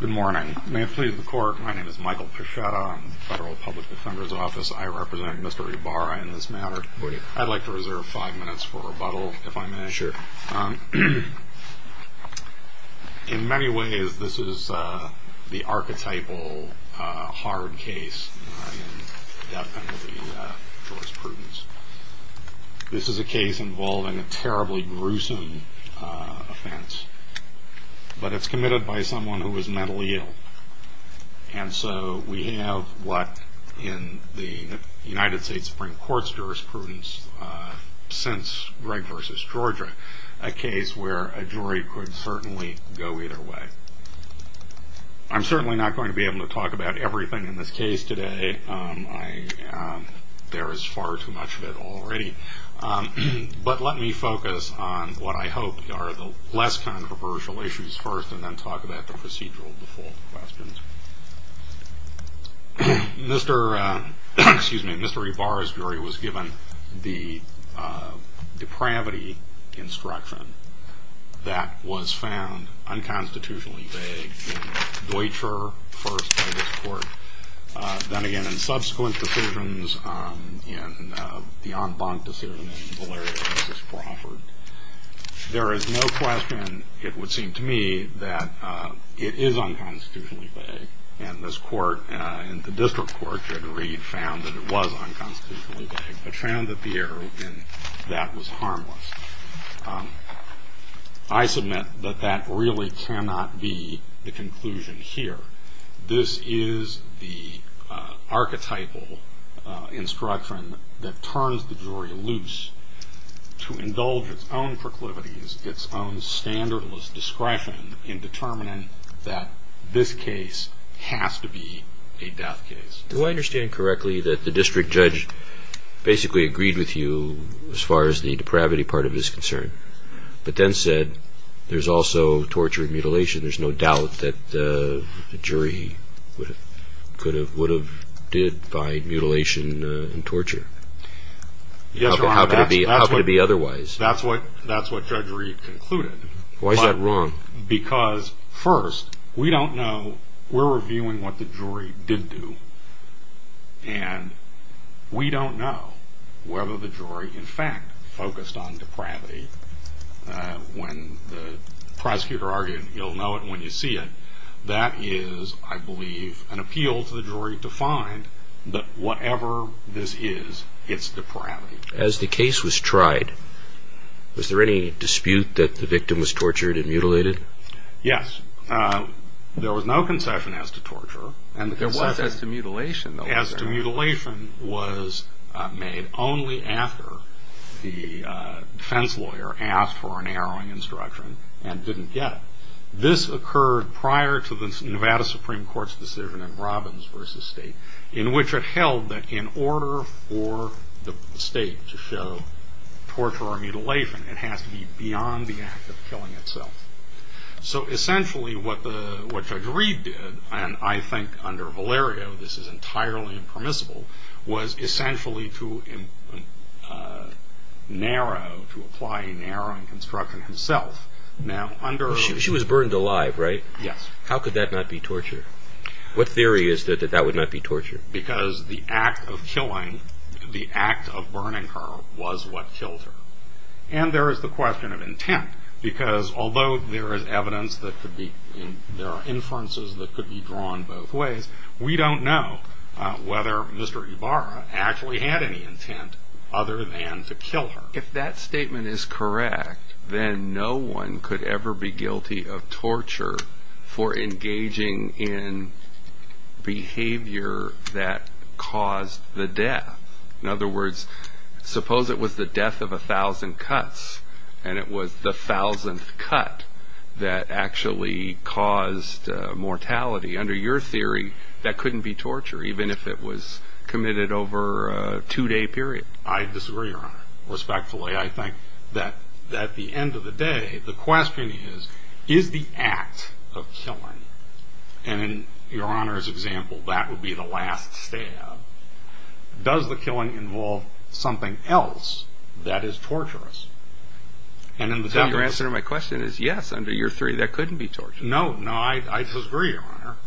Good morning. May it please the Court, my name is Michael Pichetta. I'm with the Federal Public Defender's Office. I represent Mr. Ibarra in this matter. I'd like to reserve five minutes for rebuttal, if I may. Sure. In many ways, this is the archetypal hard case in death penalty jurisprudence. This is a case involving a terribly gruesome offense. But it's committed by someone who is mentally ill. And so we have what, in the United States Supreme Court's jurisprudence since Greg v. Georgia, a case where a jury could certainly go either way. I'm certainly not going to be able to talk about everything in this case today. There is far too much of it already. But let me focus on what I hope are the less controversial issues first, and then talk about the procedural default questions. Mr. Ibarra's jury was given the depravity instruction that was found unconstitutionally vague in Deutscher, first by this Court, then again in subsequent decisions, in the en banc decision in Valeria v. Crawford. There is no question, it would seem to me, that it is unconstitutionally vague. And this Court and the District Court, Judge Reed, found that it was unconstitutionally vague. They found that the error in that was harmless. I submit that that really cannot be the conclusion here. This is the archetypal instruction that turns the jury loose to indulge its own proclivities, its own standardless discretion in determining that this case has to be a death case. Do I understand correctly that the District Judge basically agreed with you as far as the depravity part of this concern, but then said there's also torture and mutilation. There's no doubt that the jury would have did by mutilation and torture. Yes, Your Honor. How could it be otherwise? That's what Judge Reed concluded. Why is that wrong? Because, first, we don't know. We're reviewing what the jury did do. And we don't know whether the jury in fact focused on depravity. When the prosecutor argued, you'll know it when you see it, that is, I believe, an appeal to the jury to find that whatever this is, it's depravity. As the case was tried, was there any dispute that the victim was tortured and mutilated? Yes. There was no concession as to torture. There was as to mutilation, though. As to mutilation was made only after the defense lawyer asked for an arrowing instruction and didn't get it. This occurred prior to the Nevada Supreme Court's decision in Robbins v. State, in which it held that in order for the State to show torture or mutilation, it has to be beyond the act of killing itself. So essentially what Judge Reed did, and I think under Valerio this is entirely impermissible, was essentially to apply an arrowing instruction himself. She was burned alive, right? Yes. How could that not be torture? What theory is that that would not be torture? Because the act of killing, the act of burning her, was what killed her. And there is the question of intent. Because although there is evidence that there are inferences that could be drawn both ways, we don't know whether Mr. Ibarra actually had any intent other than to kill her. If that statement is correct, then no one could ever be guilty of torture for engaging in behavior that caused the death. In other words, suppose it was the death of a thousand cuts, and it was the thousandth cut that actually caused mortality. Under your theory, that couldn't be torture, even if it was committed over a two-day period. I disagree, Your Honor. Respectfully, I think that at the end of the day, the question is, is the act of killing, and in Your Honor's example, that would be the last stab, does the killing involve something else that is torturous? Your answer to my question is yes, under your theory, that couldn't be torture. No, I disagree, Your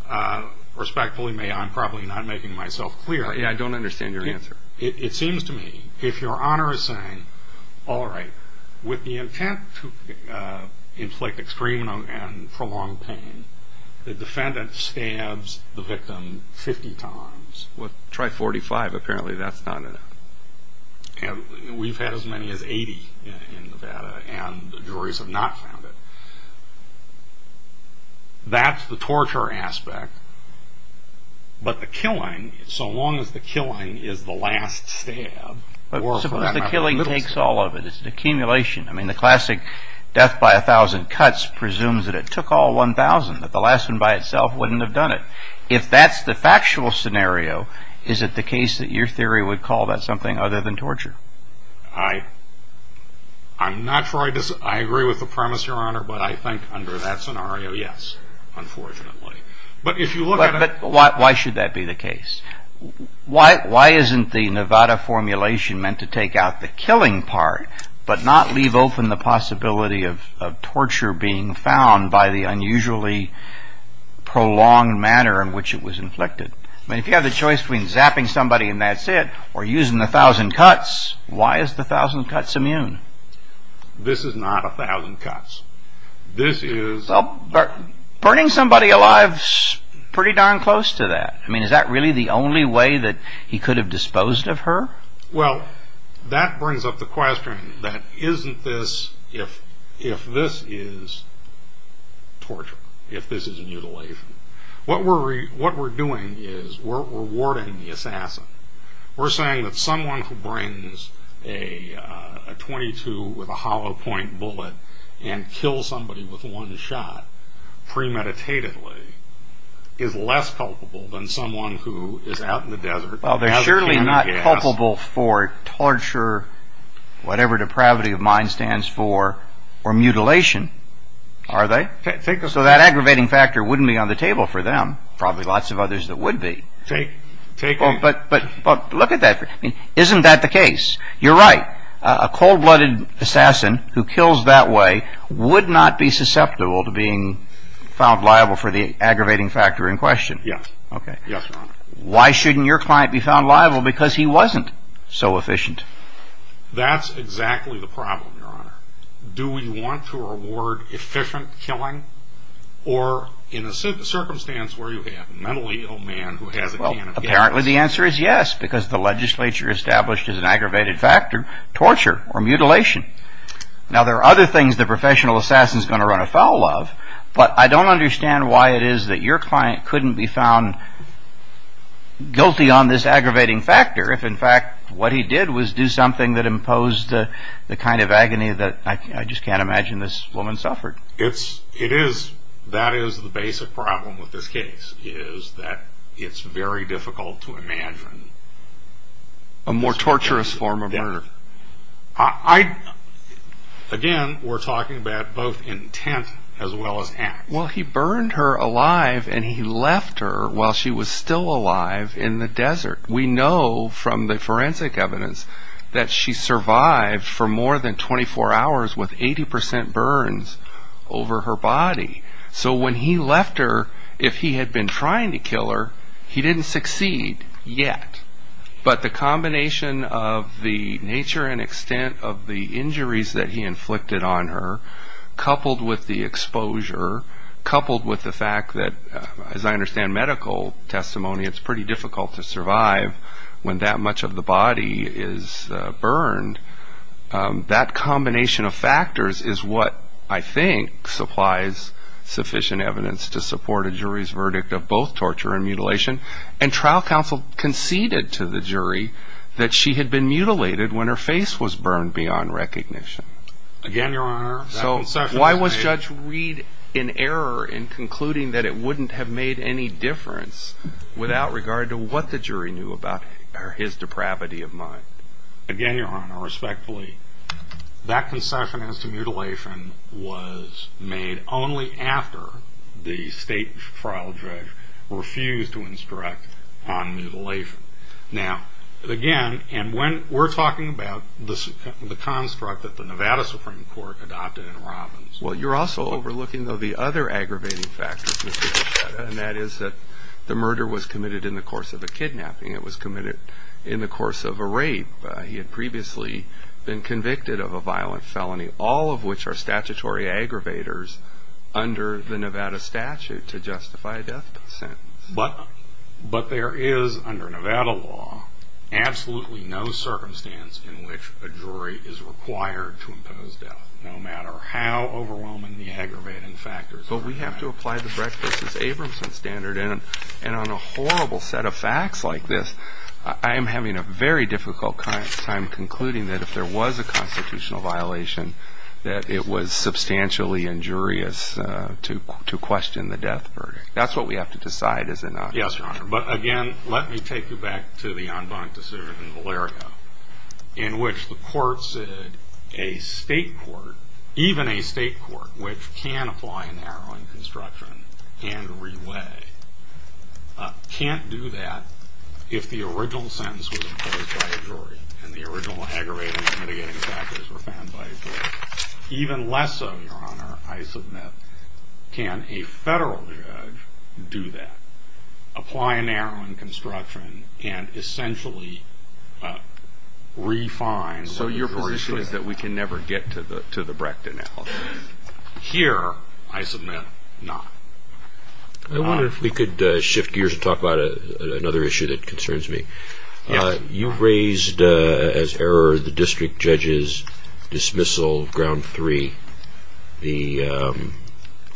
Honor. Respectfully, I'm probably not making myself clear. I don't understand your answer. It seems to me, if Your Honor is saying, all right, with the intent to inflict extreme and prolonged pain, the defendant stabs the victim 50 times, well, try 45, apparently that's not enough. We've had as many as 80 in Nevada, and the juries have not found it. That's the torture aspect, but the killing, so long as the killing is the last stab, Suppose the killing takes all of it, it's an accumulation. I mean, the classic death by a thousand cuts presumes that it took all 1,000, that the last one by itself wouldn't have done it. If that's the factual scenario, is it the case that your theory would call that something other than torture? I agree with the premise, Your Honor, but I think under that scenario, yes, unfortunately. But why should that be the case? Why isn't the Nevada formulation meant to take out the killing part, but not leave open the possibility of torture being found by the unusually prolonged manner in which it was inflicted? I mean, if you have the choice between zapping somebody and that's it, or using the thousand cuts, why is the thousand cuts immune? This is not a thousand cuts. This is... Burning somebody alive is pretty darn close to that. I mean, is that really the only way that he could have disposed of her? Well, that brings up the question that isn't this... If this is torture, if this is mutilation, what we're doing is we're rewarding the assassin. We're saying that someone who brings a .22 with a hollow point bullet and kills somebody with one shot premeditatedly is less culpable than someone who is out in the desert... Well, they're surely not culpable for torture, whatever depravity of mind stands for, or mutilation, are they? So that aggravating factor wouldn't be on the table for them. Probably lots of others that would be. But look at that. Isn't that the case? You're right. A cold-blooded assassin who kills that way would not be susceptible to being found liable for the aggravating factor in question. Yes. Yes, Your Honor. Why shouldn't your client be found liable? Because he wasn't so efficient. That's exactly the problem, Your Honor. Do we want to reward efficient killing, or in a circumstance where you have mentally a man who has a can of gas? Well, apparently the answer is yes, because the legislature established as an aggravated factor torture or mutilation. Now, there are other things that a professional assassin is going to run afoul of, but I don't understand why it is that your client couldn't be found guilty on this aggravating factor if, in fact, what he did was do something that imposed the kind of agony that I just can't imagine this woman suffered. It is. That is the basic problem with this case, is that it's very difficult to imagine. A more torturous form of murder. Again, we're talking about both intent as well as act. Well, he burned her alive, and he left her while she was still alive in the desert. We know from the forensic evidence that she survived for more than 24 hours with 80% burns over her body. So when he left her, if he had been trying to kill her, he didn't succeed yet. But the combination of the nature and extent of the injuries that he inflicted on her, coupled with the exposure, coupled with the fact that, as I understand medical testimony, it's pretty difficult to survive when that much of the body is burned, that combination of factors is what I think supplies sufficient evidence to support a jury's verdict of both torture and mutilation. And trial counsel conceded to the jury that she had been mutilated when her face was burned beyond recognition. Again, Your Honor, that concession... So why was Judge Reed in error in concluding that it wouldn't have made any difference without regard to what the jury knew about his depravity of mind? Again, Your Honor, respectfully, that concession as to mutilation was made only after the state trial judge refused to instruct on mutilation. Now, again, and we're talking about the construct that the Nevada Supreme Court adopted in Robbins. Well, you're also overlooking, though, the other aggravating factors, Mr. Bichetta, and that is that the murder was committed in the course of a kidnapping. It was committed in the course of a rape. He had previously been convicted of a violent felony, all of which are statutory aggravators under the Nevada statute to justify a death sentence. But there is, under Nevada law, absolutely no circumstance in which a jury is required to impose death, no matter how overwhelming the aggravating factors are. But we have to apply the Brecht v. Abramson standard, and on a horrible set of facts like this, I am having a very difficult time concluding that if there was a constitutional violation, that it was substantially injurious to question the death verdict. That's what we have to decide, is it not? Yes, Your Honor. But, again, let me take you back to the en banc decision in Valerio, in which the court said a state court, even a state court, which can apply a narrowing construction and re-weigh, can't do that if the original sentence was imposed by a jury, and the original aggravating and mitigating factors were found by a jury. Even less so, Your Honor, I submit, can a federal judge do that, apply a narrowing construction and essentially re-find what the jury should have. So your position is that we can never get to the Brecht analysis? Here, I submit, not. I wonder if we could shift gears and talk about another issue that concerns me. Yes. You raised as error the district judge's dismissal of ground three, the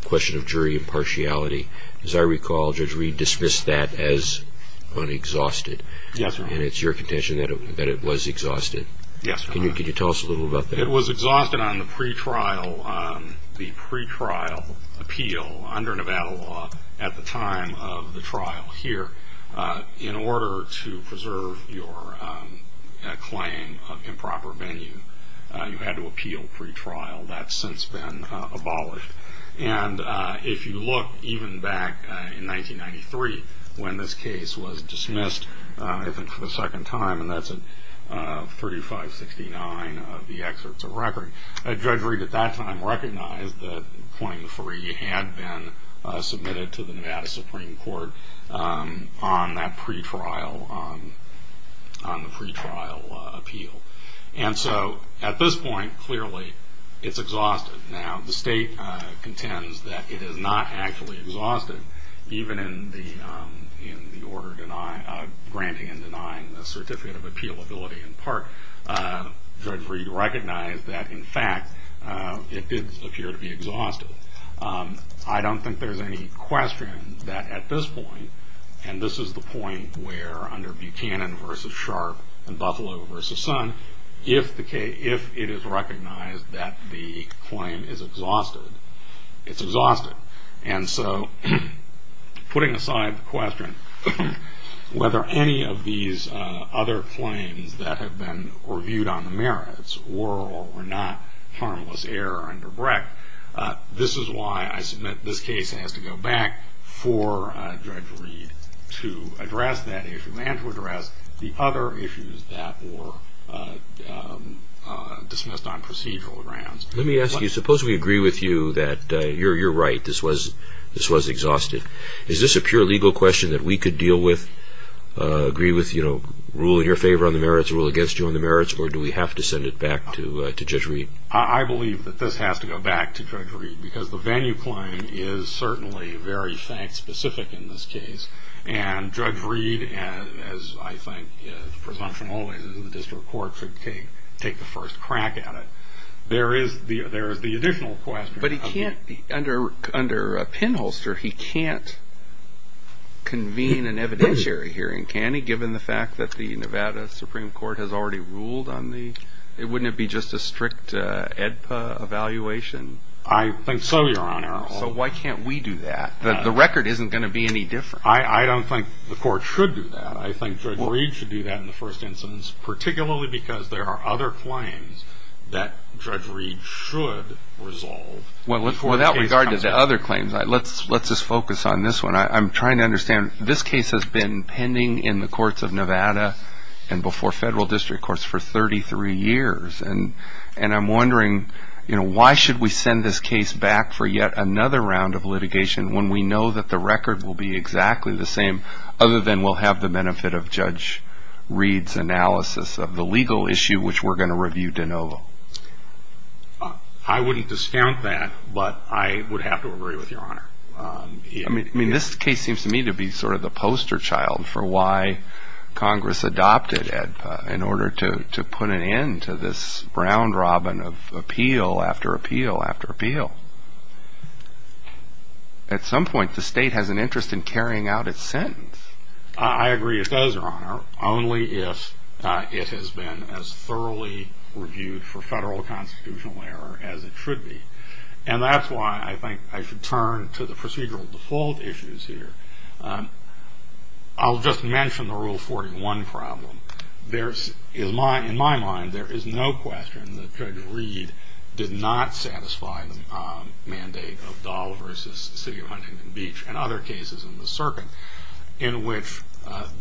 question of jury impartiality. As I recall, Judge Reed dismissed that as unexhausted. Yes, Your Honor. And it's your contention that it was exhausted? Yes, Your Honor. Can you tell us a little about that? It was exhausted on the pretrial appeal under Nevada law at the time of the trial here. In order to preserve your claim of improper venue, you had to appeal pretrial. That's since been abolished. And if you look even back in 1993 when this case was dismissed, I think for the second time, and that's at 3569 of the excerpts of record, Judge Reed at that time recognized that point three had been submitted to the Nevada Supreme Court on that pretrial, on the pretrial appeal. And so at this point, clearly, it's exhausted. Now, the state contends that it is not actually exhausted, even in the order granting and denying the certificate of appealability in part. Judge Reed recognized that, in fact, it did appear to be exhausted. I don't think there's any question that at this point, and this is the point where under Buchanan v. Sharp and Buffalo v. Sun, if it is recognized that the claim is exhausted, it's exhausted. And so putting aside the question whether any of these other claims that have been reviewed on the merits were or were not harmless error under Brecht, this is why I submit this case has to go back for Judge Reed to address that issue and to address the other issues that were dismissed on procedural grounds. Let me ask you, suppose we agree with you that you're right, this was exhausted. Is this a pure legal question that we could deal with, agree with, rule in your favor on the merits, rule against you on the merits, or do we have to send it back to Judge Reed? I believe that this has to go back to Judge Reed because the venue claim is certainly very fact-specific in this case, and Judge Reed, as I think the presumption always is in the district court, should take the first crack at it. There is the additional question. But he can't, under Pinholster, he can't convene an evidentiary hearing, can he, given the fact that the Nevada Supreme Court has already ruled on the, wouldn't it be just a strict AEDPA evaluation? I think so, Your Honor. So why can't we do that? The record isn't going to be any different. I don't think the court should do that. I think Judge Reed should do that in the first instance, particularly because there are other claims that Judge Reed should resolve. Without regard to the other claims, let's just focus on this one. I'm trying to understand. This case has been pending in the courts of Nevada and before federal district courts for 33 years, and I'm wondering why should we send this case back for yet another round of litigation when we know that the record will be exactly the same, other than we'll have the benefit of Judge Reed's analysis of the legal issue, which we're going to review de novo? I wouldn't discount that, but I would have to agree with Your Honor. I mean, this case seems to me to be sort of the poster child for why Congress adopted AEDPA, in order to put an end to this round-robin of appeal after appeal after appeal. At some point, the state has an interest in carrying out its sentence. I agree with those, Your Honor, only if it has been as thoroughly reviewed for federal constitutional error as it should be, and that's why I think I should turn to the procedural default issues here. I'll just mention the Rule 41 problem. In my mind, there is no question that Judge Reed did not satisfy the mandate of Dahl v. City of Huntington Beach and other cases in the circuit, in which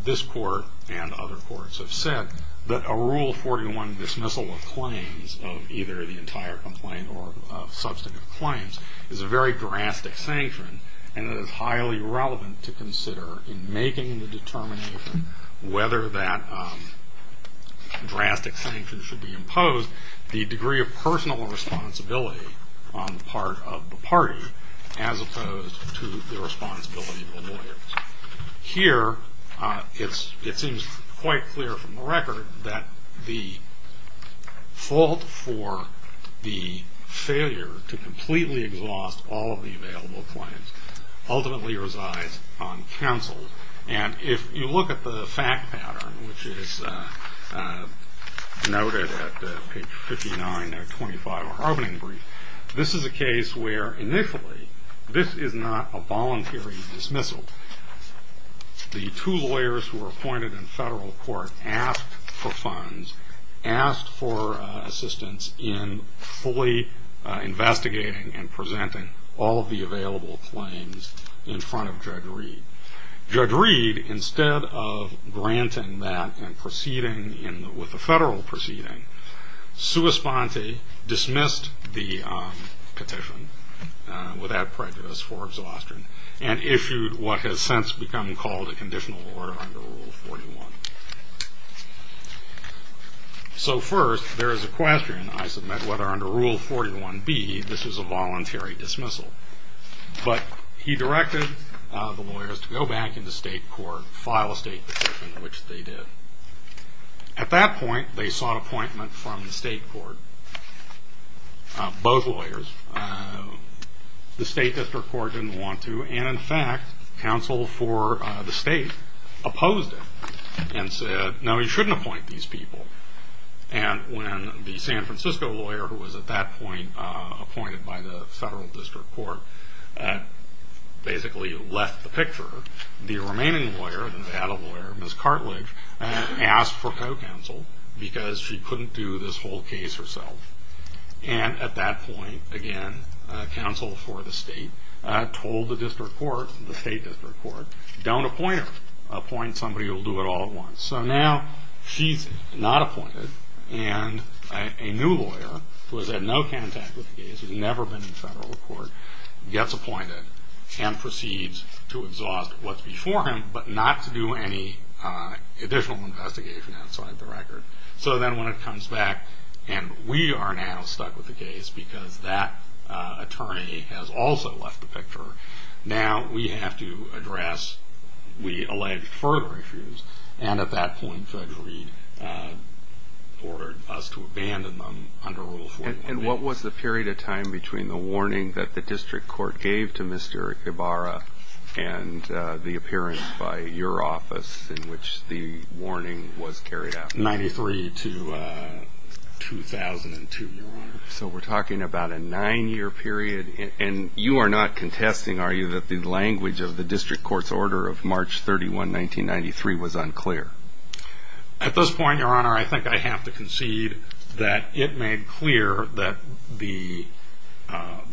this court and other courts have said that a Rule 41 dismissal of claims, of either the entire complaint or substantive claims, is a very drastic sanction, and it is highly relevant to consider in making the determination whether that drastic sanction should be imposed the degree of personal responsibility on the part of the party, as opposed to the responsibility of the lawyers. Here, it seems quite clear from the record that the fault for the failure to completely exhaust all of the available claims ultimately resides on counsel, and if you look at the fact pattern, which is noted at page 59 of 25 of our opening brief, this is a case where, initially, this is not a voluntary dismissal. The two lawyers who were appointed in federal court asked for funds, asked for assistance in fully investigating and presenting all of the available claims in front of Judge Reed. Judge Reed, instead of granting that and proceeding with the federal proceeding, sua sponte, dismissed the petition without prejudice for exhaustion, and issued what has since become called a conditional order under Rule 41. So first, there is a question, I submit, whether under Rule 41b this is a voluntary dismissal, but he directed the lawyers to go back into state court, file a state petition, which they did. At that point, they sought appointment from the state court, both lawyers. The state district court didn't want to, and in fact, counsel for the state opposed it and said, no, you shouldn't appoint these people. And when the San Francisco lawyer, who was at that point appointed by the federal district court, basically left the picture, the remaining lawyer, the Nevada lawyer, Ms. Cartlidge, asked for co-counsel because she couldn't do this whole case herself. And at that point, again, counsel for the state told the district court, the state district court, don't appoint her, appoint somebody who will do it all at once. So now she's not appointed, and a new lawyer, who has had no contact with the case, who's never been in federal court, gets appointed and proceeds to exhaust what's before him, but not to do any additional investigation outside the record. So then when it comes back, and we are now stuck with the case because that attorney has also left the picture, now we have to address, we allege further issues. And at that point, Judge Reed ordered us to abandon them under Rule 41. And what was the period of time between the warning that the district court gave to Mr. Ibarra and the appearance by your office in which the warning was carried out? 1993 to 2002, Your Honor. So we're talking about a nine-year period, and you are not contesting, are you, that the language of the district court's order of March 31, 1993 was unclear? At this point, Your Honor, I think I have to concede that it made clear that the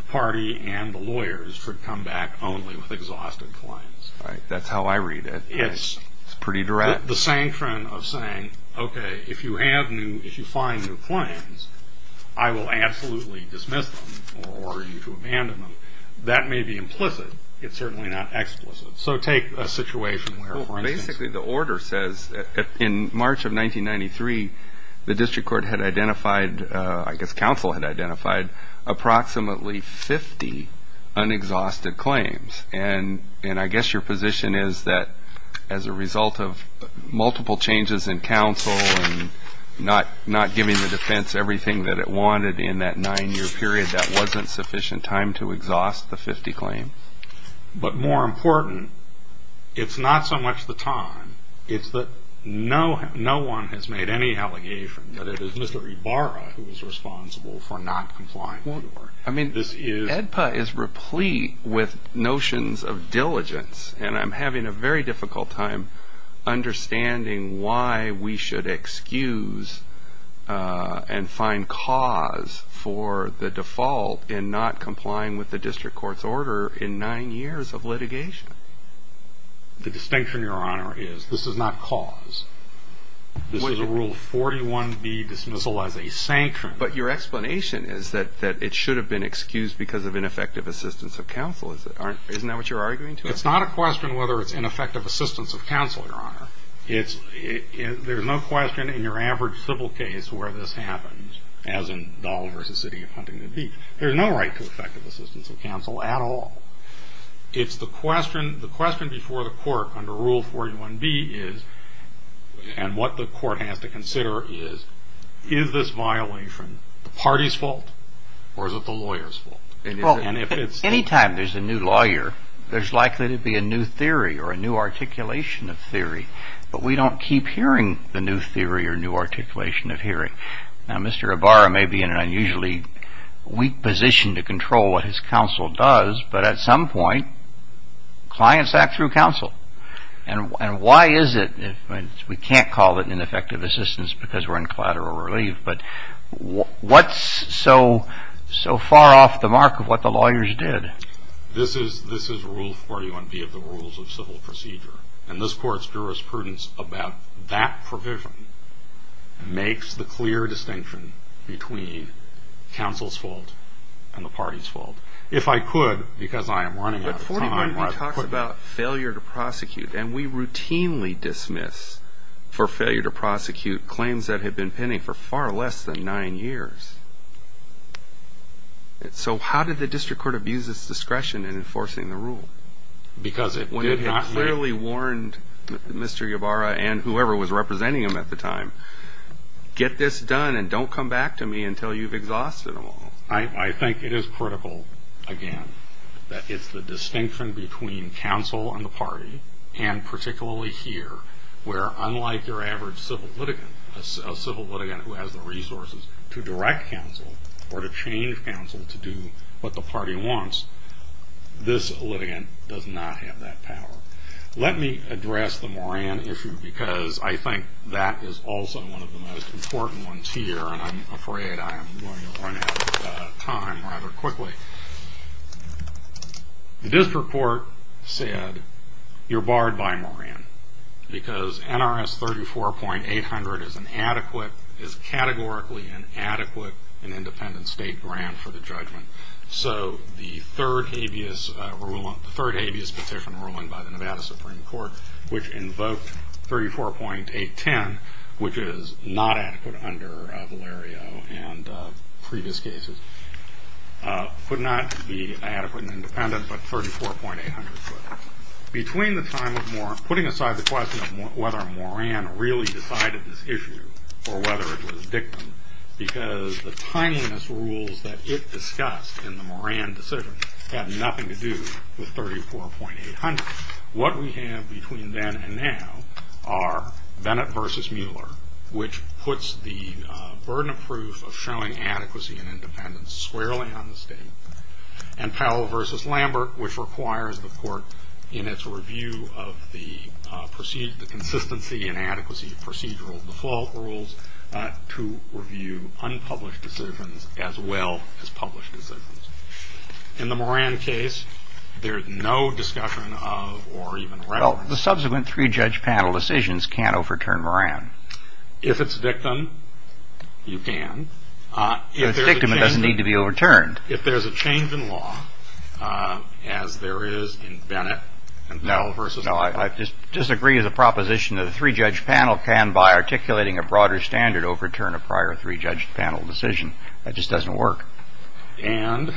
party and the lawyers should come back only with exhaustive claims. All right, that's how I read it. Yes. It's pretty direct? The same trend of saying, okay, if you have new, if you find new claims, I will absolutely dismiss them or order you to abandon them. That may be implicit. It's certainly not explicit. So take a situation where, for instance. Well, basically the order says in March of 1993, the district court had identified, I guess counsel had identified approximately 50 unexhausted claims. And I guess your position is that as a result of multiple changes in counsel and not giving the defense everything that it wanted in that nine-year period, that wasn't sufficient time to exhaust the 50 claims? But more important, it's not so much the time. It's that no one has made any allegation that it is Mr. Ibarra who is responsible for not complying. I mean, AEDPA is replete with notions of diligence, and I'm having a very difficult time understanding why we should excuse and find cause for the default in not complying with the district court's order in nine years of litigation. The distinction, Your Honor, is this is not cause. This is a Rule 41B dismissal as a sanction. But your explanation is that it should have been excused because of ineffective assistance of counsel. Isn't that what you're arguing? It's not a question whether it's ineffective assistance of counsel, Your Honor. There's no question in your average civil case where this happens, as in Dahl v. City of Huntington Beach. There's no right to effective assistance of counsel at all. It's the question before the court under Rule 41B is, and what the court has to consider is, is this violation the party's fault or is it the lawyer's fault? Well, any time there's a new lawyer, there's likely to be a new theory or a new articulation of theory, but we don't keep hearing the new theory or new articulation of hearing. Now, Mr. Ibarra may be in an unusually weak position to control what his counsel does, but at some point, clients act through counsel. And why is it? We can't call it ineffective assistance because we're in collateral relief, but what's so far off the mark of what the lawyers did? This is Rule 41B of the rules of civil procedure, and this court's jurisprudence about that provision makes the clear distinction between counsel's fault and the party's fault. Rule 41B talks about failure to prosecute, and we routinely dismiss for failure to prosecute claims that have been pending for far less than nine years. So how did the district court abuse its discretion in enforcing the rule? When it clearly warned Mr. Ibarra and whoever was representing him at the time, get this done and don't come back to me until you've exhausted them all. I think it is critical, again, that it's the distinction between counsel and the party, and particularly here, where unlike your average civil litigant, a civil litigant who has the resources to direct counsel or to change counsel to do what the party wants, this litigant does not have that power. Let me address the Moran issue because I think that is also one of the most important ones here, and I'm afraid I'm going to run out of time rather quickly. The district court said you're barred by Moran because NRS 34.800 is categorically an adequate and independent state grant for the judgment. So the third habeas petition ruling by the Nevada Supreme Court, which invoked 34.810, which is not adequate under Valerio and previous cases, could not be adequate and independent, but 34.800 could. Between the time of Moran, putting aside the question of whether Moran really decided this issue or whether it was Dickman, because the tininess rules that it discussed in the Moran decision had nothing to do with 34.800, what we have between then and now are Bennett v. Mueller, which puts the burden of proof of showing adequacy and independence squarely on the state, and Powell v. Lambert, which requires the court in its review of the consistency and adequacy of procedural default rules to review unpublished decisions as well as published decisions. In the Moran case, there's no discussion of or even reference. Well, the subsequent three-judge panel decisions can't overturn Moran. If it's Dickman, you can. If it's Dickman, it doesn't need to be overturned. If there's a change in law, as there is in Bennett and Powell v. Mueller. No, I disagree as a proposition that a three-judge panel can, by articulating a broader standard, overturn a prior three-judge panel decision. That just doesn't work. And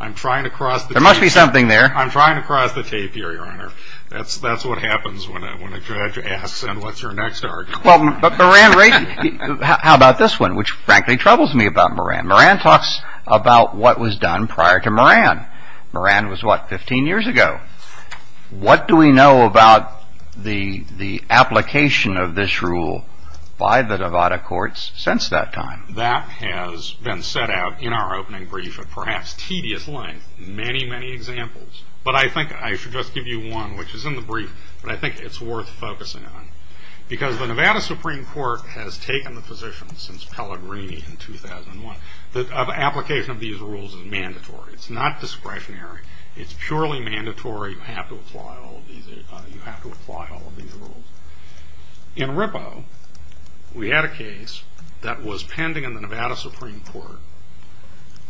I'm trying to cross the tape. There must be something there. I'm trying to cross the tape here, Your Honor. That's what happens when a judge asks, and what's your next argument? Well, Moran raised it. How about this one, which frankly troubles me about Moran? Moran talks about what was done prior to Moran. Moran was, what, 15 years ago. What do we know about the application of this rule by the Nevada courts since that time? That has been set out in our opening brief at perhaps tedious length, many, many examples. But I think I should just give you one, which is in the brief, but I think it's worth focusing on. Because the Nevada Supreme Court has taken the position since Pellegrini in 2001 that an application of these rules is mandatory. It's not discretionary. It's purely mandatory. You have to apply all of these rules. In Rippo, we had a case that was pending in the Nevada Supreme Court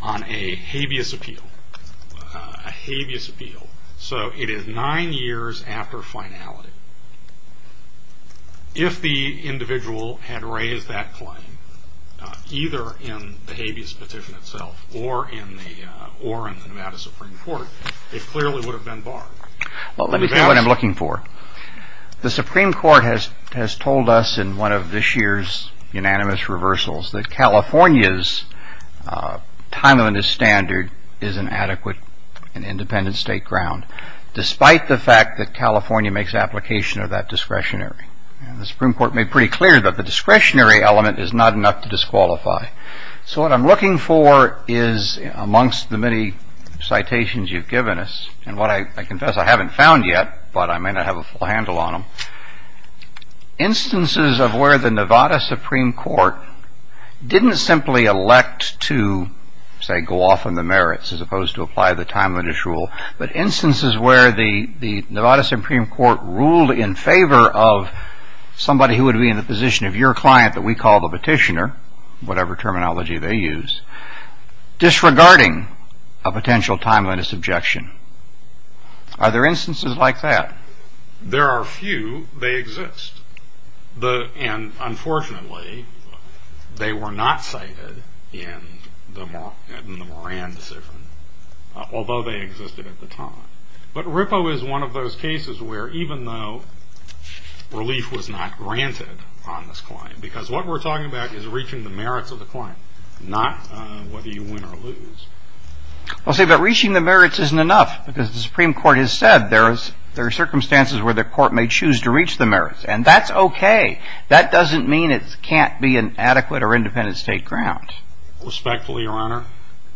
on a habeas appeal, a habeas appeal. So it is nine years after finality. If the individual had raised that claim, either in the habeas petition itself or in the Nevada Supreme Court, it clearly would have been barred. Well, let me tell you what I'm looking for. The Supreme Court has told us in one of this year's unanimous reversals that California's timeliness standard is an adequate and independent state ground. Despite the fact that California makes application of that discretionary. The Supreme Court made pretty clear that the discretionary element is not enough to disqualify. So what I'm looking for is amongst the many citations you've given us, and what I confess I haven't found yet, but I may not have a full handle on them, instances of where the Nevada Supreme Court didn't simply elect to, say, go off on the merits as opposed to apply the timeliness rule, but instances where the Nevada Supreme Court ruled in favor of somebody who would be in the position of your client that we call the petitioner, whatever terminology they use, disregarding a potential timeliness objection. Are there instances like that? There are a few. They exist. And unfortunately, they were not cited in the Moran decision, although they existed at the time. But RIPO is one of those cases where even though relief was not granted on this client, because what we're talking about is reaching the merits of the client, not whether you win or lose. Well, see, but reaching the merits isn't enough, because the Supreme Court has said there are circumstances where the court may choose to reach the merits, and that's okay. That doesn't mean it can't be an adequate or independent state ground. Respectfully, Your Honor,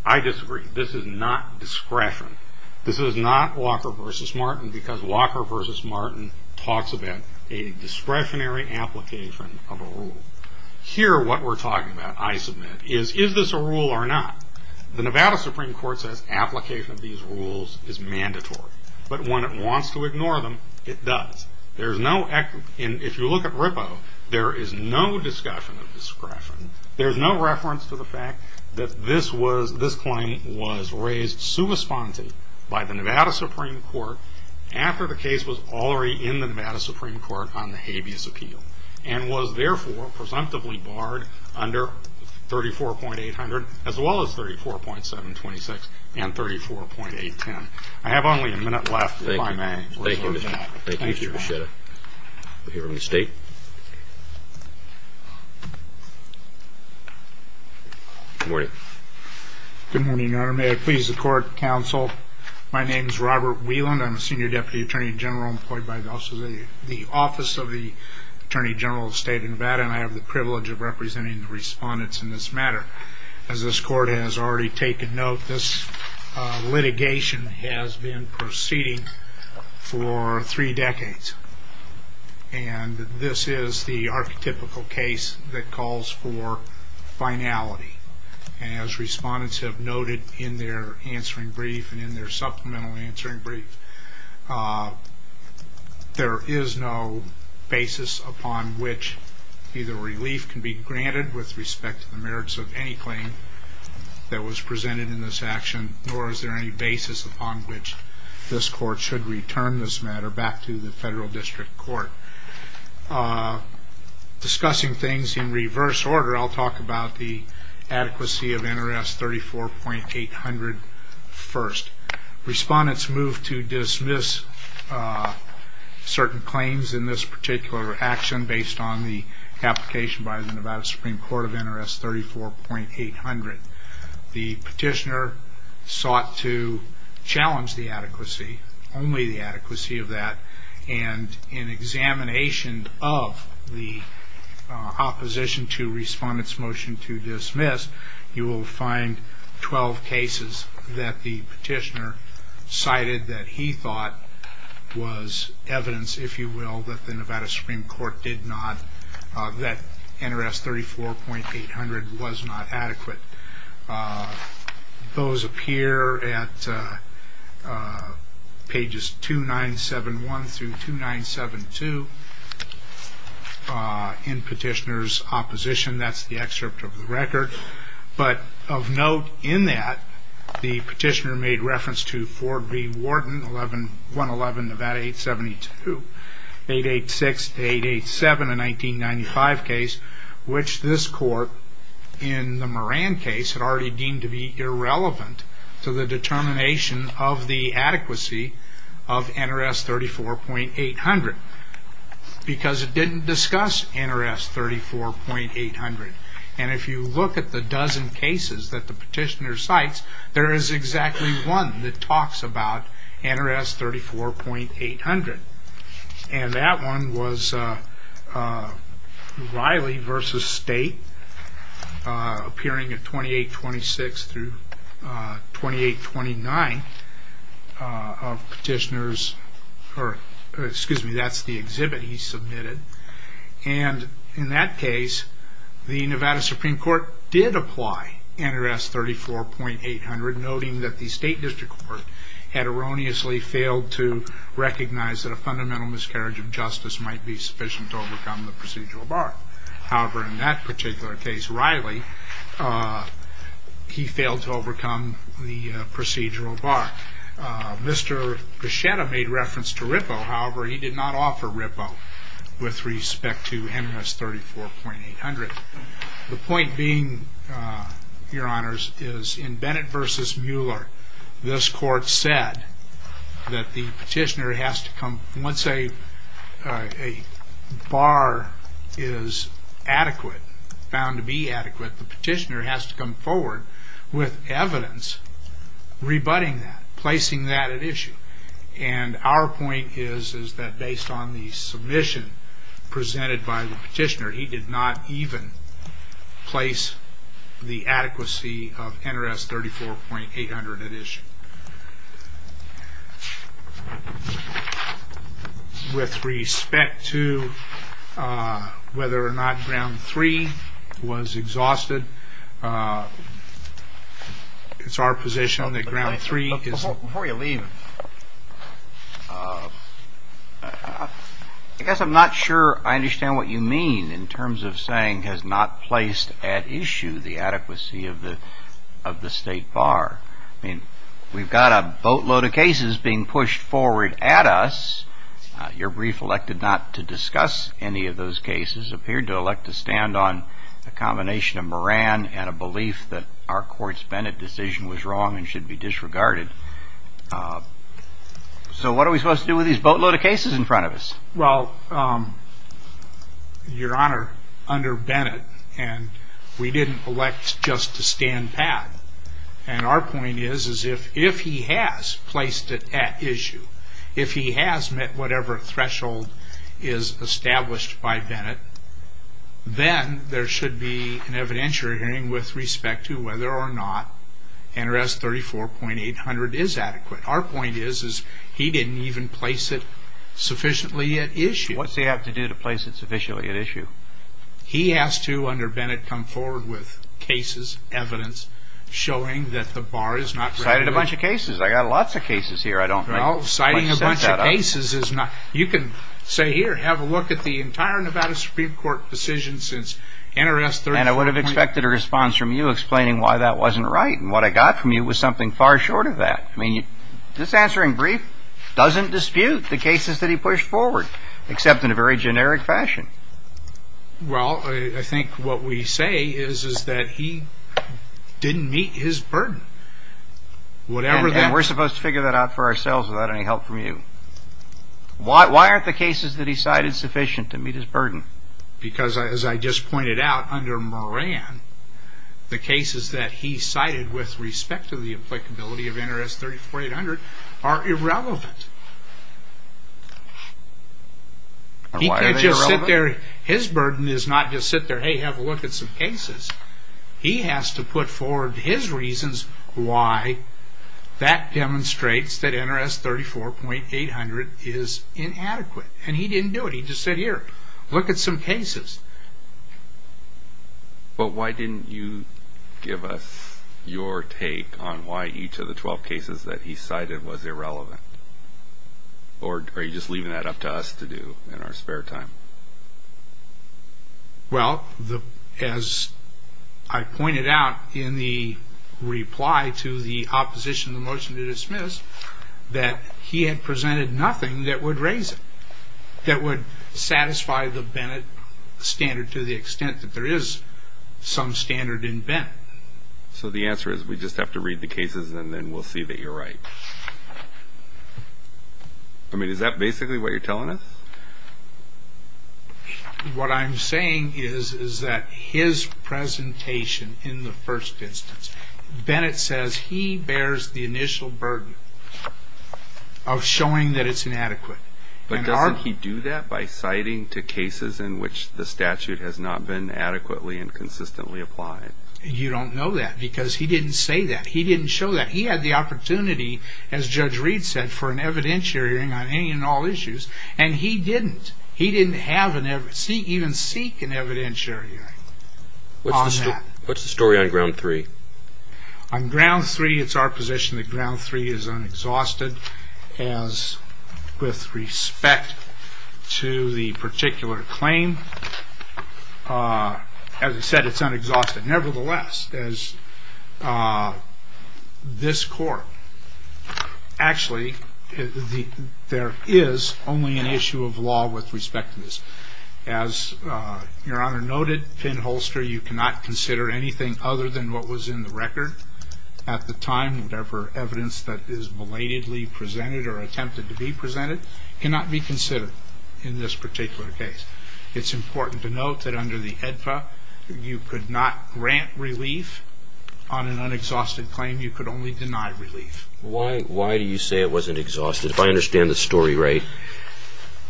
I disagree. This is not discretion. This is not Walker v. Martin because Walker v. Martin talks about a discretionary application of a rule. Here, what we're talking about, I submit, is is this a rule or not? The Nevada Supreme Court says application of these rules is mandatory. But when it wants to ignore them, it does. If you look at RIPO, there is no discussion of discretion. There's no reference to the fact that this claim was raised sui sponte by the Nevada Supreme Court after the case was already in the Nevada Supreme Court on the habeas appeal and was therefore presumptively barred under 34.800 as well as 34.726 and 34.810. I have only a minute left if I may. Thank you. Thank you, Mr. Beschetta. Thank you, Mr. Beschetta. We'll hear from the State. Good morning. Good morning, Your Honor. May I please the court, counsel? My name is Robert Wieland. I'm a senior deputy attorney general employed by the Office of the Attorney General of the State of Nevada, and I have the privilege of representing the respondents in this matter. As this court has already taken note, this litigation has been proceeding for three decades, and this is the archetypical case that calls for finality. As respondents have noted in their answering brief and in their supplemental answering brief, there is no basis upon which either relief can be granted with respect to the merits of any claim that was presented in this action, nor is there any basis upon which this court should return this matter back to the federal district court. Discussing things in reverse order, I'll talk about the adequacy of NRS 34.800 first. Respondents moved to dismiss certain claims in this particular action based on the application by the Nevada Supreme Court of NRS 34.800. The petitioner sought to challenge the adequacy, only the adequacy of that, and in examination of the opposition to respondent's motion to dismiss, you will find 12 cases that the petitioner cited that he thought was evidence, if you will, that the Nevada Supreme Court did not, that NRS 34.800 was not adequate. Those appear at pages 2971 through 2972 in petitioner's opposition. That's the excerpt of the record. But of note in that, the petitioner made reference to Ford v. Wharton, 111 Nevada 872, 886 to 887, a 1995 case, which this court, in the Moran case, had already deemed to be irrelevant to the determination of the adequacy of NRS 34.800 because it didn't discuss NRS 34.800. And if you look at the dozen cases that the petitioner cites, there is exactly one that talks about NRS 34.800, and that one was Riley v. State, appearing at 2826 through 2829 of petitioner's, or excuse me, that's the exhibit he submitted, and in that case, the Nevada Supreme Court did apply NRS 34.800, noting that the State District Court had erroneously failed to recognize that a fundamental miscarriage of justice might be sufficient to overcome the procedural bar. However, in that particular case, Riley, he failed to overcome the procedural bar. Mr. Grishetta made reference to Rippo. However, he did not offer Rippo with respect to NRS 34.800. The point being, Your Honors, is in Bennett v. Mueller, this court said that the petitioner has to come, once a bar is adequate, found to be adequate, the petitioner has to come forward with evidence rebutting that, placing that at issue. And our point is that based on the submission presented by the petitioner, he did not even place the adequacy of NRS 34.800 at issue. With respect to whether or not ground three was exhausted, it's our position that ground three is... Before you leave, I guess I'm not sure I understand what you mean in terms of saying has not placed at issue the adequacy of the state bar. I mean, we've got a boatload of cases being pushed forward at us. Your brief elected not to discuss any of those cases, appeared to elect to stand on a combination of Moran and a belief that our court's Bennett decision was wrong and should be disregarded. So what are we supposed to do with these boatload of cases in front of us? Well, Your Honor, under Bennett, we didn't elect just to stand pat. And our point is if he has placed it at issue, if he has met whatever threshold is established by Bennett, then there should be an evidentiary hearing with respect to whether or not NRS 34.800 is adequate. Our point is he didn't even place it sufficiently at issue. What's he have to do to place it sufficiently at issue? He has to, under Bennett, come forward with cases, evidence, showing that the bar is not... Cited a bunch of cases. I got lots of cases here I don't think. No, citing a bunch of cases is not... You can say here, have a look at the entire Nevada Supreme Court decision since NRS 34.800... And I would have expected a response from you explaining why that wasn't right. And what I got from you was something far short of that. I mean, this answering brief doesn't dispute the cases that he pushed forward, except in a very generic fashion. Well, I think what we say is that he didn't meet his burden. And we're supposed to figure that out for ourselves without any help from you. Why aren't the cases that he cited sufficient to meet his burden? Because as I just pointed out, under Moran, the cases that he cited with respect to the applicability of NRS 34.800 are irrelevant. He can't just sit there... His burden is not just sit there, hey, have a look at some cases. He has to put forward his reasons why that demonstrates that NRS 34.800 is inadequate. And he didn't do it. He just said, here, look at some cases. But why didn't you give us your take on why each of the 12 cases that he cited was irrelevant? Or are you just leaving that up to us to do in our spare time? Well, as I pointed out in the reply to the opposition to the motion to dismiss, that he had presented nothing that would raise it, that would satisfy the Bennett standard to the extent that there is some standard in Bennett. So the answer is we just have to read the cases and then we'll see that you're right. I mean, is that basically what you're telling us? What I'm saying is that his presentation in the first instance, Bennett says he bears the initial burden of showing that it's inadequate. But doesn't he do that by citing to cases in which the statute has not been adequately and consistently applied? You don't know that because he didn't say that. He didn't show that. He had the opportunity, as Judge Reed said, for an evidentiary hearing on any and all issues. And he didn't. He didn't even seek an evidentiary hearing on that. What's the story on ground three? On ground three, it's our position that ground three is unexhausted as with respect to the particular claim. As I said, it's unexhausted. Nevertheless, as this court, actually there is only an issue of law with respect to this. As Your Honor noted, Pinholster, you cannot consider anything other than what was in the record at the time. Whatever evidence that is belatedly presented or attempted to be presented cannot be considered in this particular case. It's important to note that under the AEDPA, you could not grant relief on an unexhausted claim. You could only deny relief. Why do you say it wasn't exhausted? If I understand the story right,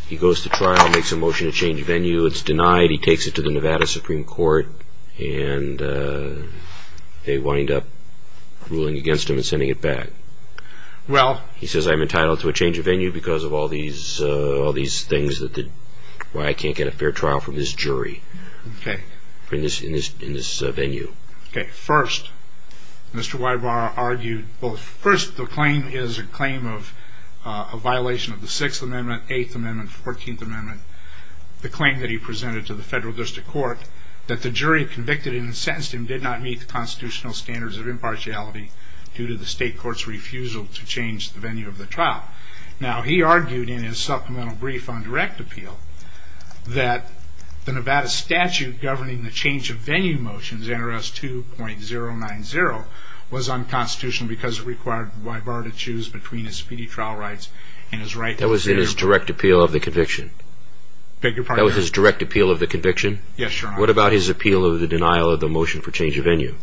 he goes to trial, makes a motion to change venue, it's denied, he takes it to the Nevada Supreme Court, and they wind up ruling against him and sending it back. He says, I'm entitled to a change of venue because of all these things, why I can't get a fair trial from this jury in this venue. First, Mr. Weibar argued, well first the claim is a claim of a violation of the 6th Amendment, 8th Amendment, 14th Amendment, the claim that he presented to the federal district court, that the jury convicted and sentenced him did not meet the constitutional standards of impartiality due to the state court's refusal to change the venue of the trial. Now, he argued in his supplemental brief on direct appeal, that the Nevada statute governing the change of venue motions, NRS 2.090, was unconstitutional because it required Weibar to choose between his speedy trial rights and his right to resume. That was in his direct appeal of the conviction? Beg your pardon? That was his direct appeal of the conviction? Yes, Your Honor. What about his appeal of the denial of the motion for change of venue?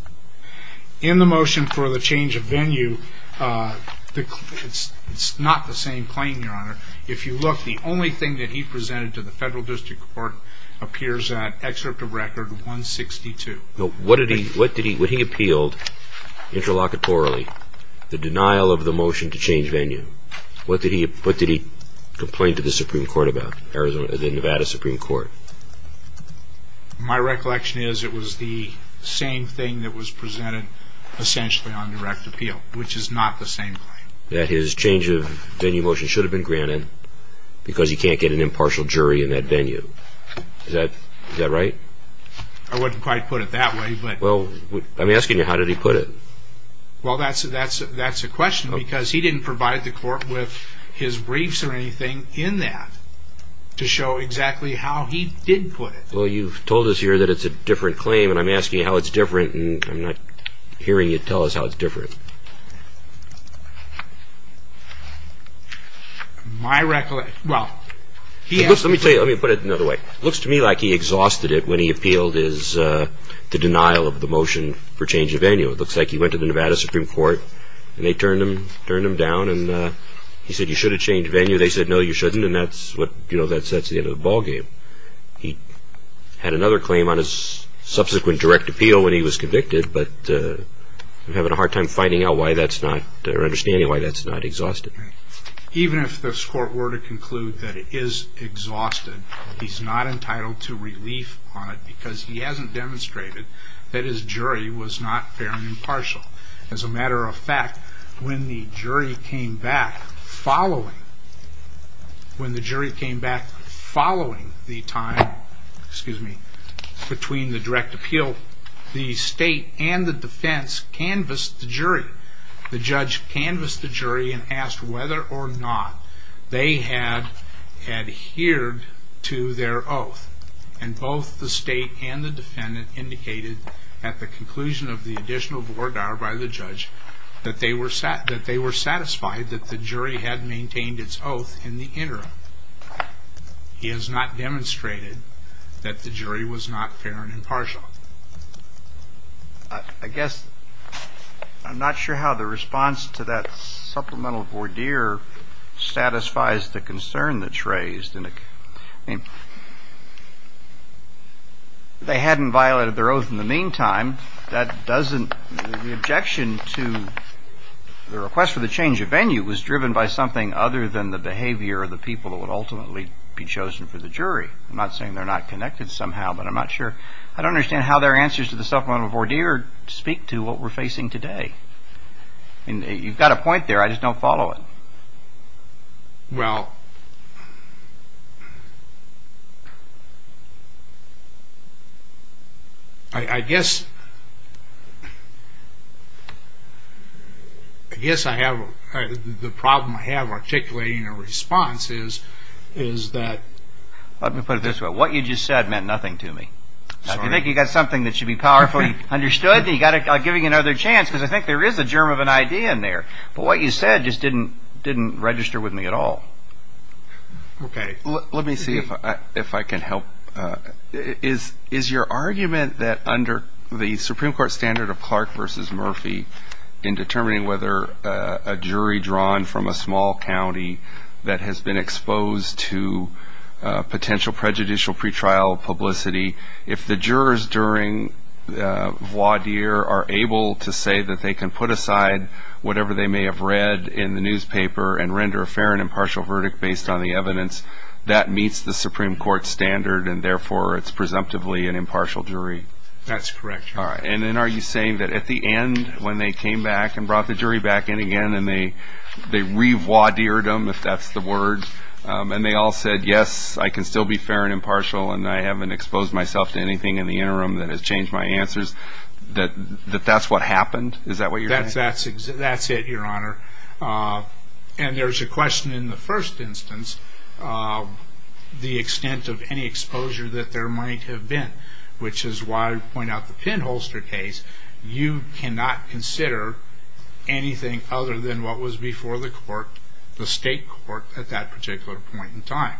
In the motion for the change of venue, it's not the same claim, Your Honor. If you look, the only thing that he presented to the federal district court appears in Excerpt of Record 162. What did he appeal interlocutorily? The denial of the motion to change venue. What did he complain to the Nevada Supreme Court about? My recollection is it was the same thing that was presented essentially on direct appeal, which is not the same claim. That his change of venue motion should have been granted because you can't get an impartial jury in that venue. Is that right? I wouldn't quite put it that way. Well, I'm asking you, how did he put it? Well, that's a question because he didn't provide the court with his briefs or anything in that to show exactly how he did put it. Well, you've told us here that it's a different claim and I'm asking you how it's different and I'm not hearing you tell us how it's different. My recollection, well, he has- Let me put it another way. It looks to me like he exhausted it when he appealed the denial of the motion for change of venue. It looks like he went to the Nevada Supreme Court and they turned him down and he said, you should have changed venue. They said, no, you shouldn't, and that's the end of the ballgame. He had another claim on his subsequent direct appeal when he was convicted, but I'm having a hard time finding out why that's not, or understanding why that's not exhausted. Even if this court were to conclude that it is exhausted, he's not entitled to relief on it because he hasn't demonstrated that his jury was not fair and impartial. As a matter of fact, when the jury came back following the time between the direct appeal, the state and the defense canvassed the jury. The judge canvassed the jury and asked whether or not they had adhered to their oath, and both the state and the defendant indicated at the conclusion of the additional voir dire by the judge that they were satisfied that the jury had maintained its oath in the interim. He has not demonstrated that the jury was not fair and impartial. I guess I'm not sure how the response to that supplemental voir dire satisfies the concern that's raised. I mean, they hadn't violated their oath in the meantime. The objection to the request for the change of venue was driven by something other than the behavior of the people that would ultimately be chosen for the jury. I'm not saying they're not connected somehow, but I'm not sure. I don't understand how their answers to the supplemental voir dire speak to what we're facing today. You've got a point there. I just don't follow it. Well, I guess the problem I have articulating a response is that... Let me put it this way. What you just said meant nothing to me. If you think you've got something that should be powerfully understood, then you've got to give me another chance because I think there is a germ of an idea in there. But what you said just didn't register with me at all. Okay. Let me see if I can help. Is your argument that under the Supreme Court standard of Clark versus Murphy, in determining whether a jury drawn from a small county that has been exposed to potential prejudicial pretrial publicity, if the jurors during voir dire are able to say that they can put aside whatever they may have read in the newspaper and render a fair and impartial verdict based on the evidence, that meets the Supreme Court standard and therefore it's presumptively an impartial jury? That's correct. All right. And then are you saying that at the end when they came back and brought the jury back in again and they revoir dired them, if that's the word, and they all said, yes, I can still be fair and impartial and I haven't exposed myself to anything in the interim that has changed my answers, that that's what happened? Is that what you're saying? That's it, Your Honor. And there's a question in the first instance, the extent of any exposure that there might have been, which is why I point out the pinholster case. You cannot consider anything other than what was before the court, the state court, at that particular point in time.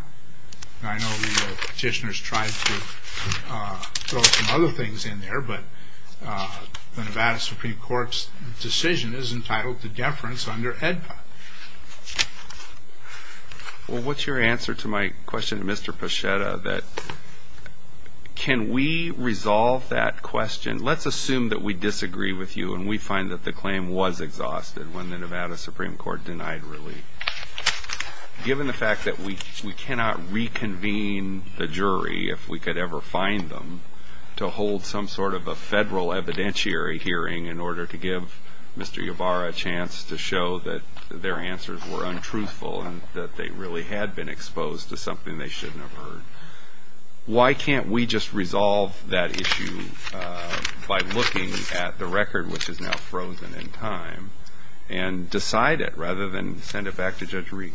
I know the petitioners tried to throw some other things in there, but the Nevada Supreme Court's decision is entitled to deference under AEDPA. Well, what's your answer to my question to Mr. Pachetta, that can we resolve that question? Let's assume that we disagree with you and we find that the claim was exhausted when the Nevada Supreme Court denied relief. Given the fact that we cannot reconvene the jury, if we could ever find them, to hold some sort of a federal evidentiary hearing in order to give Mr. Ybarra a chance to show that their answers were untruthful and that they really had been exposed to something they shouldn't have heard, why can't we just resolve that issue by looking at the record, which is now frozen in time, and decide it rather than send it back to Judge Reed?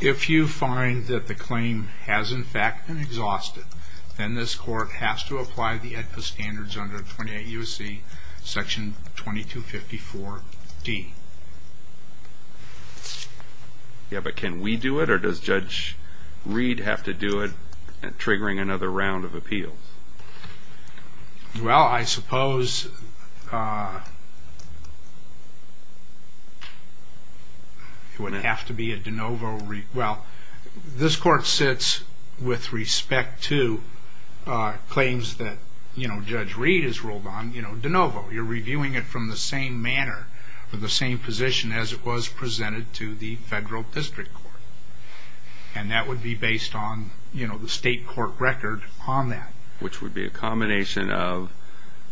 If you find that the claim has in fact been exhausted, then this court has to apply the AEDPA standards under 28 U.S.C. section 2254D. Yeah, but can we do it, or does Judge Reed have to do it, triggering another round of appeals? Well, I suppose it would have to be a de novo. Well, this court sits with respect to claims that Judge Reed has ruled on de novo. You're reviewing it from the same manner, from the same position as it was presented to the federal district court, and that would be based on the state court record on that. Which would be a combination of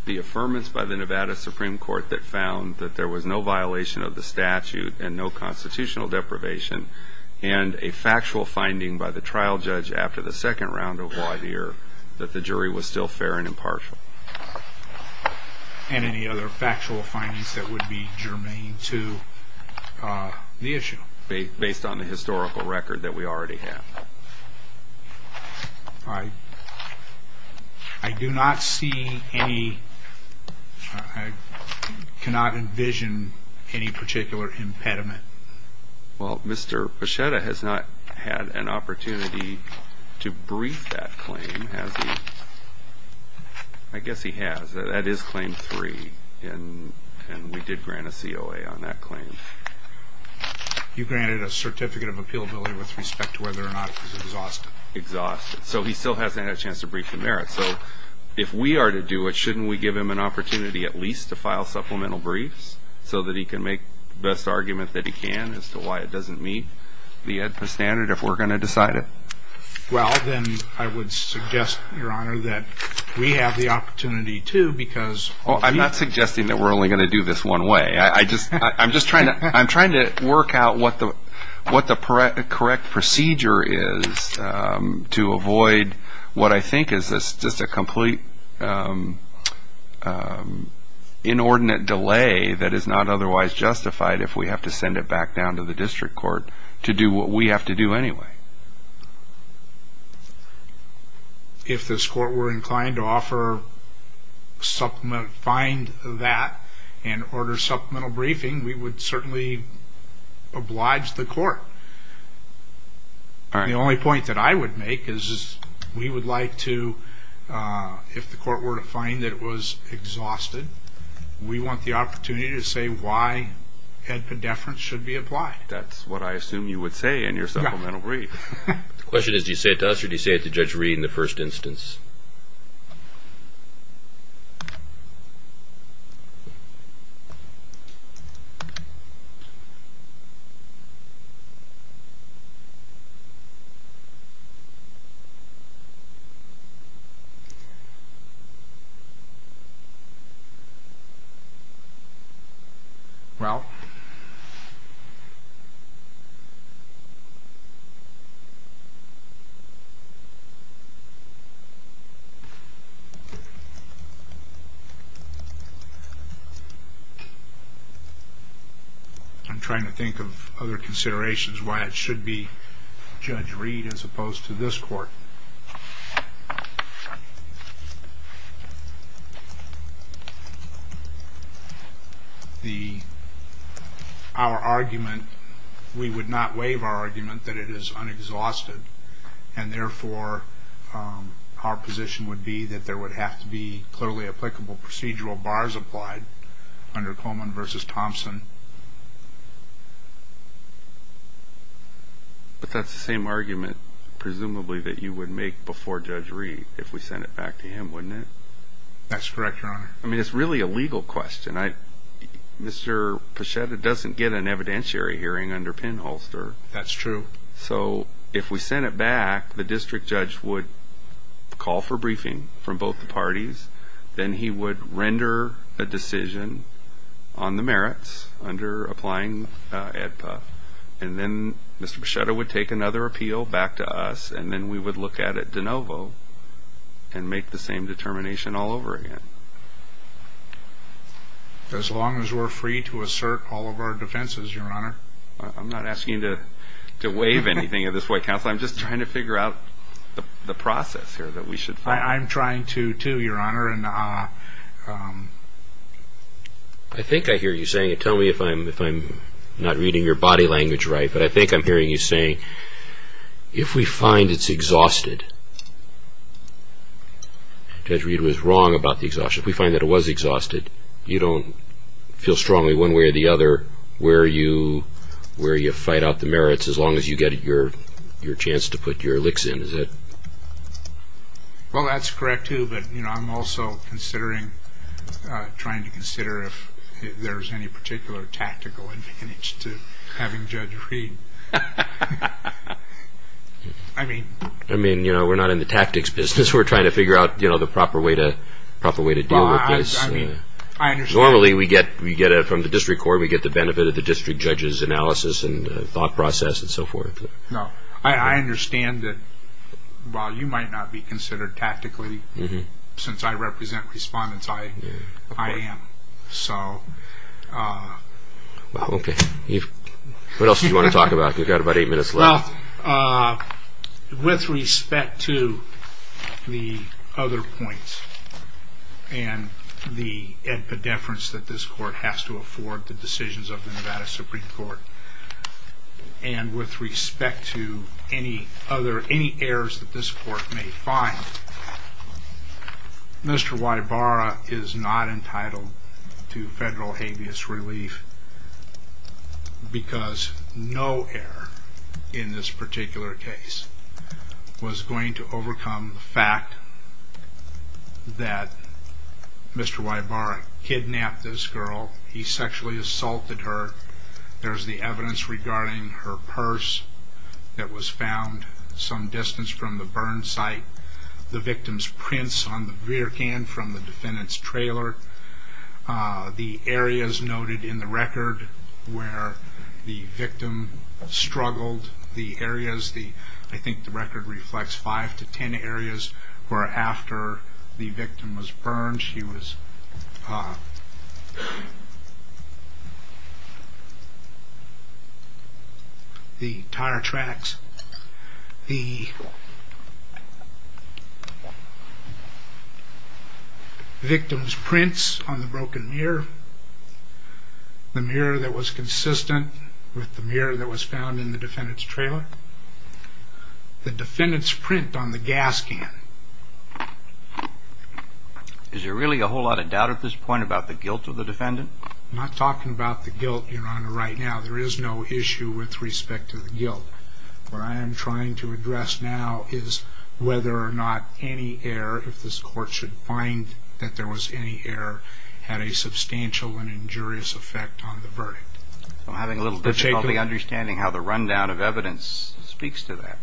the affirmance by the Nevada Supreme Court that found that there was no violation of the statute and no constitutional deprivation, and a factual finding by the trial judge after the second round of law here that the jury was still fair and impartial. And any other factual findings that would be germane to the issue? Based on the historical record that we already have. I do not see any, I cannot envision any particular impediment. Well, Mr. Pachetta has not had an opportunity to brief that claim, has he? I guess he has. That is claim three, and we did grant a COA on that claim. You granted a certificate of appealability with respect to whether or not he's exhausted. Exhausted. So he still hasn't had a chance to brief the merits. So if we are to do it, shouldn't we give him an opportunity at least to file supplemental briefs so that he can make the best argument that he can as to why it doesn't meet the AEDPA standard if we're going to decide it? Well, then I would suggest, Your Honor, that we have the opportunity to because Well, I'm not suggesting that we're only going to do this one way. I'm just trying to work out what the correct procedure is to avoid what I think is just a complete inordinate delay that is not otherwise justified if we have to send it back down to the district court to do what we have to do anyway. If this court were inclined to offer, find that and order supplemental briefing, we would certainly oblige the court. The only point that I would make is we would like to, if the court were to find that it was exhausted, we want the opportunity to say why AEDPA deference should be applied. That's what I assume you would say in your supplemental brief. The question is do you say it to us or do you say it to Judge Reed in the first instance? Judge Reed. I'm trying to think of other considerations why it should be Judge Reed as opposed to this court. Our argument, we would not waive our argument that it is unexhausted, and therefore our position would be that there would have to be clearly applicable procedural bars applied under Coleman v. Thompson. But that's the same argument, presumably, that you would make before Judge Reed if we sent it back to him, wouldn't it? That's correct, Your Honor. I mean, it's really a legal question. Mr. Poschetta doesn't get an evidentiary hearing under pinholster. That's true. So if we sent it back, the district judge would call for briefing from both the parties, then he would render a decision on the merits under applying AEDPA, and then Mr. Poschetta would take another appeal back to us, and then we would look at it de novo and make the same determination all over again. As long as we're free to assert all of our defenses, Your Honor. I'm not asking you to waive anything of this White House. I'm just trying to figure out the process here that we should follow. I'm trying to, too, Your Honor. I think I hear you saying it. Tell me if I'm not reading your body language right. But I think I'm hearing you saying if we find it's exhausted, Judge Reed was wrong about the exhaustion. If we find that it was exhausted, you don't feel strongly one way or the other where you fight out the merits as long as you get your chance to put your licks in, is that right? Well, that's correct, too, but I'm also considering, trying to consider if there's any particular tactical advantage to having Judge Reed. I mean, we're not in the tactics business. We're trying to figure out the proper way to deal with this. Normally, we get it from the district court. We get the benefit of the district judge's analysis and thought process and so forth. I understand that while you might not be considered tactically, since I represent respondents, I am. What else do you want to talk about? You've got about eight minutes left. With respect to the other points and the epidemics that this court has to afford, the decisions of the Nevada Supreme Court, and with respect to any errors that this court may find, Mr. Wybara is not entitled to federal habeas relief because no error in this particular case was going to overcome the fact that Mr. Wybara kidnapped this girl. He sexually assaulted her. There's the evidence regarding her purse that was found some distance from the burn site, the victim's prints on the beer can from the defendant's trailer, the areas noted in the record where the victim struggled, the areas, I think the record reflects five to ten areas where after the victim was burned, she was, the tire tracks, the victim's prints on the broken mirror, the mirror that was consistent with the mirror that was found in the defendant's trailer, the defendant's print on the gas can. Is there really a whole lot of doubt at this point about the guilt of the defendant? I'm not talking about the guilt, Your Honor, right now. There is no issue with respect to the guilt. What I am trying to address now is whether or not any error, if this court should find that there was any error, had a substantial and injurious effect on the verdict. I'm having a little difficulty understanding how the rundown of evidence speaks to that.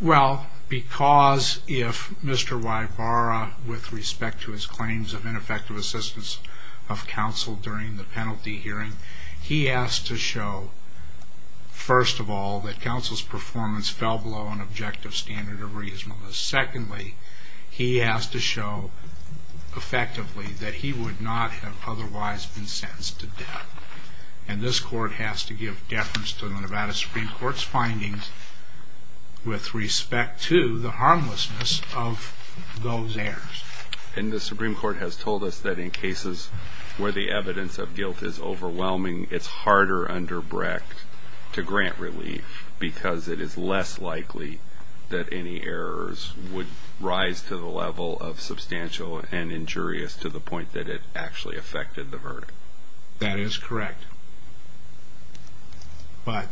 Well, because if Mr. Wybara, with respect to his claims of ineffective assistance of counsel during the penalty hearing, he asked to show, first of all, that counsel's performance fell below an objective standard of reasonableness. Secondly, he asked to show, effectively, that he would not have otherwise been sentenced to death. And this court has to give deference to the Nevada Supreme Court's findings with respect to the harmlessness of those errors. And the Supreme Court has told us that in cases where the evidence of guilt is overwhelming, it's harder under Brecht to grant relief because it is less likely that any errors would rise to the level of substantial and injurious to the point that it actually affected the verdict. That is correct. But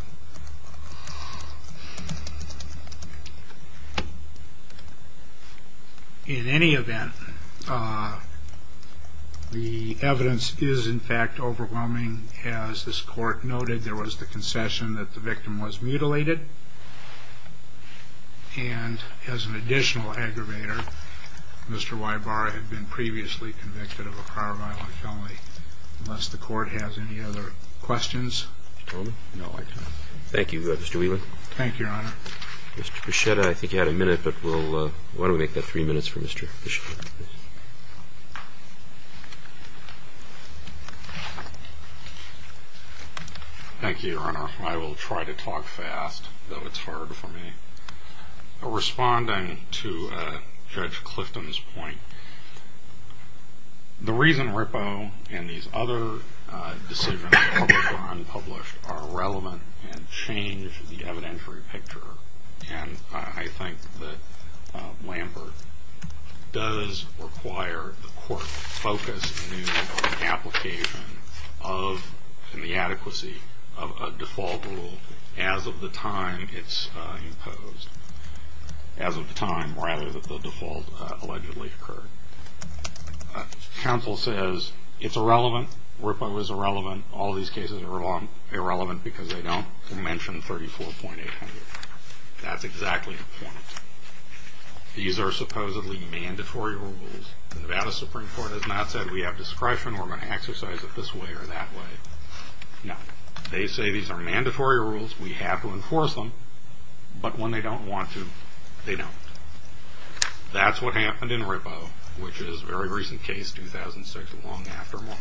in any event, the evidence is, in fact, overwhelming. As this court noted, there was the concession that the victim was mutilated. And as an additional aggravator, Mr. Wybara had been previously convicted of a prior violent felony. Unless the court has any other questions. Thank you, Mr. Whelan. Thank you, Your Honor. Mr. Buschetta, I think you had a minute. Why don't we make that three minutes for Mr. Buschetta? Thank you, Your Honor. I will try to talk fast, though it's hard for me. Responding to Judge Clifton's point, the reason Rippo and these other decisions, whether published or unpublished, are relevant and change the evidentiary picture. And I think that Lambert does require the court focus in the application of the adequacy of a default rule as of the time it's imposed. As of the time, rather, that the default allegedly occurred. Counsel says it's irrelevant. Rippo is irrelevant. All these cases are irrelevant because they don't mention 34.800. That's exactly the point. These are supposedly mandatory rules. The Nevada Supreme Court has not said we have discretion, we're going to exercise it this way or that way. No. They say these are mandatory rules, we have to enforce them, but when they don't want to, they don't. That's what happened in Rippo, which is a very recent case, 2006, long after Moran.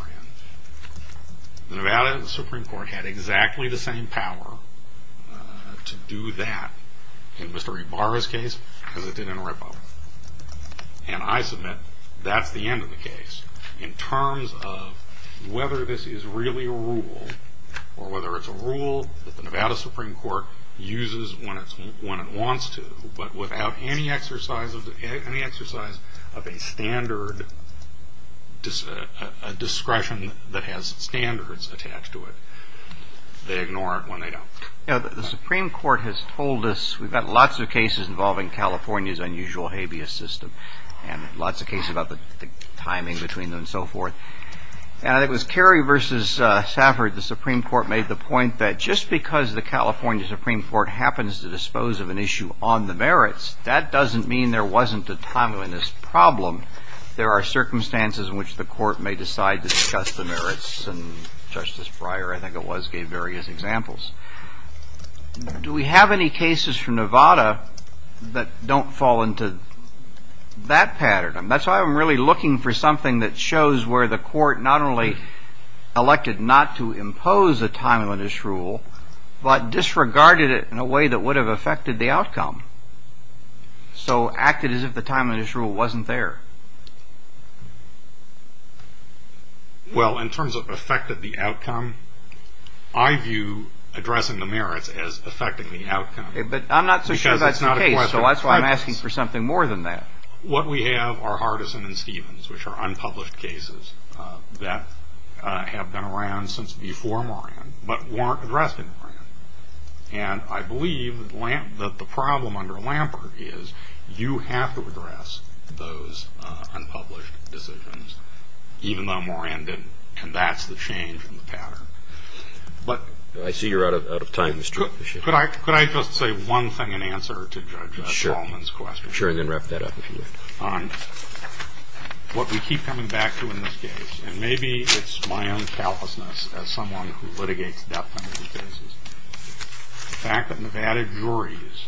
The Nevada Supreme Court had exactly the same power to do that in Mr. Ebarra's case as it did in Rippo. And I submit that's the end of the case in terms of whether this is really a rule or whether it's a rule that the Nevada Supreme Court uses when it wants to, but without any exercise of a standard, a discretion that has standards attached to it. They ignore it when they don't. The Supreme Court has told us, we've got lots of cases involving California's unusual habeas system and lots of cases about the timing between them and so forth, and it was Carey v. Safford, the Supreme Court, made the point that just because the California Supreme Court happens to dispose of an issue on the merits, that doesn't mean there wasn't a timeliness problem. There are circumstances in which the court may decide to discuss the merits, and Justice Breyer, I think it was, gave various examples. Do we have any cases from Nevada that don't fall into that pattern? That's why I'm really looking for something that shows where the court not only elected not to impose a timeliness rule, but disregarded it in a way that would have affected the outcome, so acted as if the timeliness rule wasn't there. Well, in terms of affected the outcome, I view addressing the merits as affecting the outcome. I'm not so sure that's the case, so that's why I'm asking for something more than that. What we have are Hardison and Stevens, which are unpublished cases that have been around since before Moran, but weren't addressed in Moran. And I believe that the problem under Lampert is you have to address those unpublished decisions, even though Moran didn't, and that's the change in the pattern. I see you're out of time, Mr. Bishop. Could I just say one thing in answer to Judge Solomon's question? Sure, and then wrap that up if you want. What we keep coming back to in this case, and maybe it's my own callousness as someone who litigates death penalty cases, the fact that Nevada juries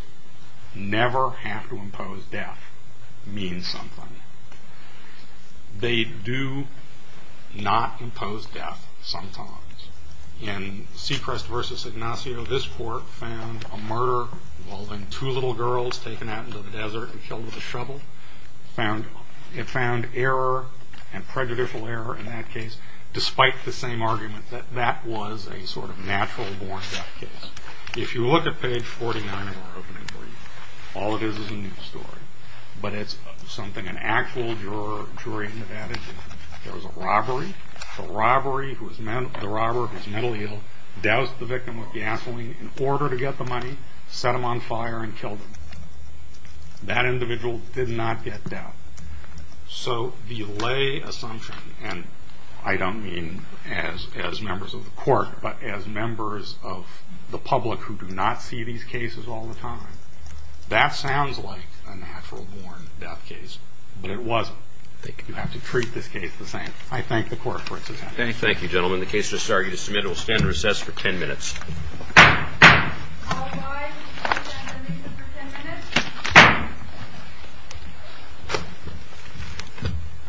never have to impose death means something. They do not impose death sometimes. In Sechrest v. Ignacio, this court found a murder involving two little girls taken out into the desert and killed with a shovel. It found error and prejudicial error in that case, despite the same argument that that was a sort of natural born death case. If you look at page 49 of our opening brief, all it is is a news story, but it's something an actual jury in Nevada did. There was a robbery. The robber, who's mentally ill, doused the victim with gasoline in order to get the money, set him on fire, and killed him. That individual did not get death. So the lay assumption, and I don't mean as members of the court, but as members of the public who do not see these cases all the time, that sounds like a natural born death case, but it wasn't. You have to treat this case the same. I thank the court for its attempt. Thank you, gentlemen. The case just argued is submitted. We'll stand in recess for 10 minutes. All rise. We'll stand in recess for 10 minutes.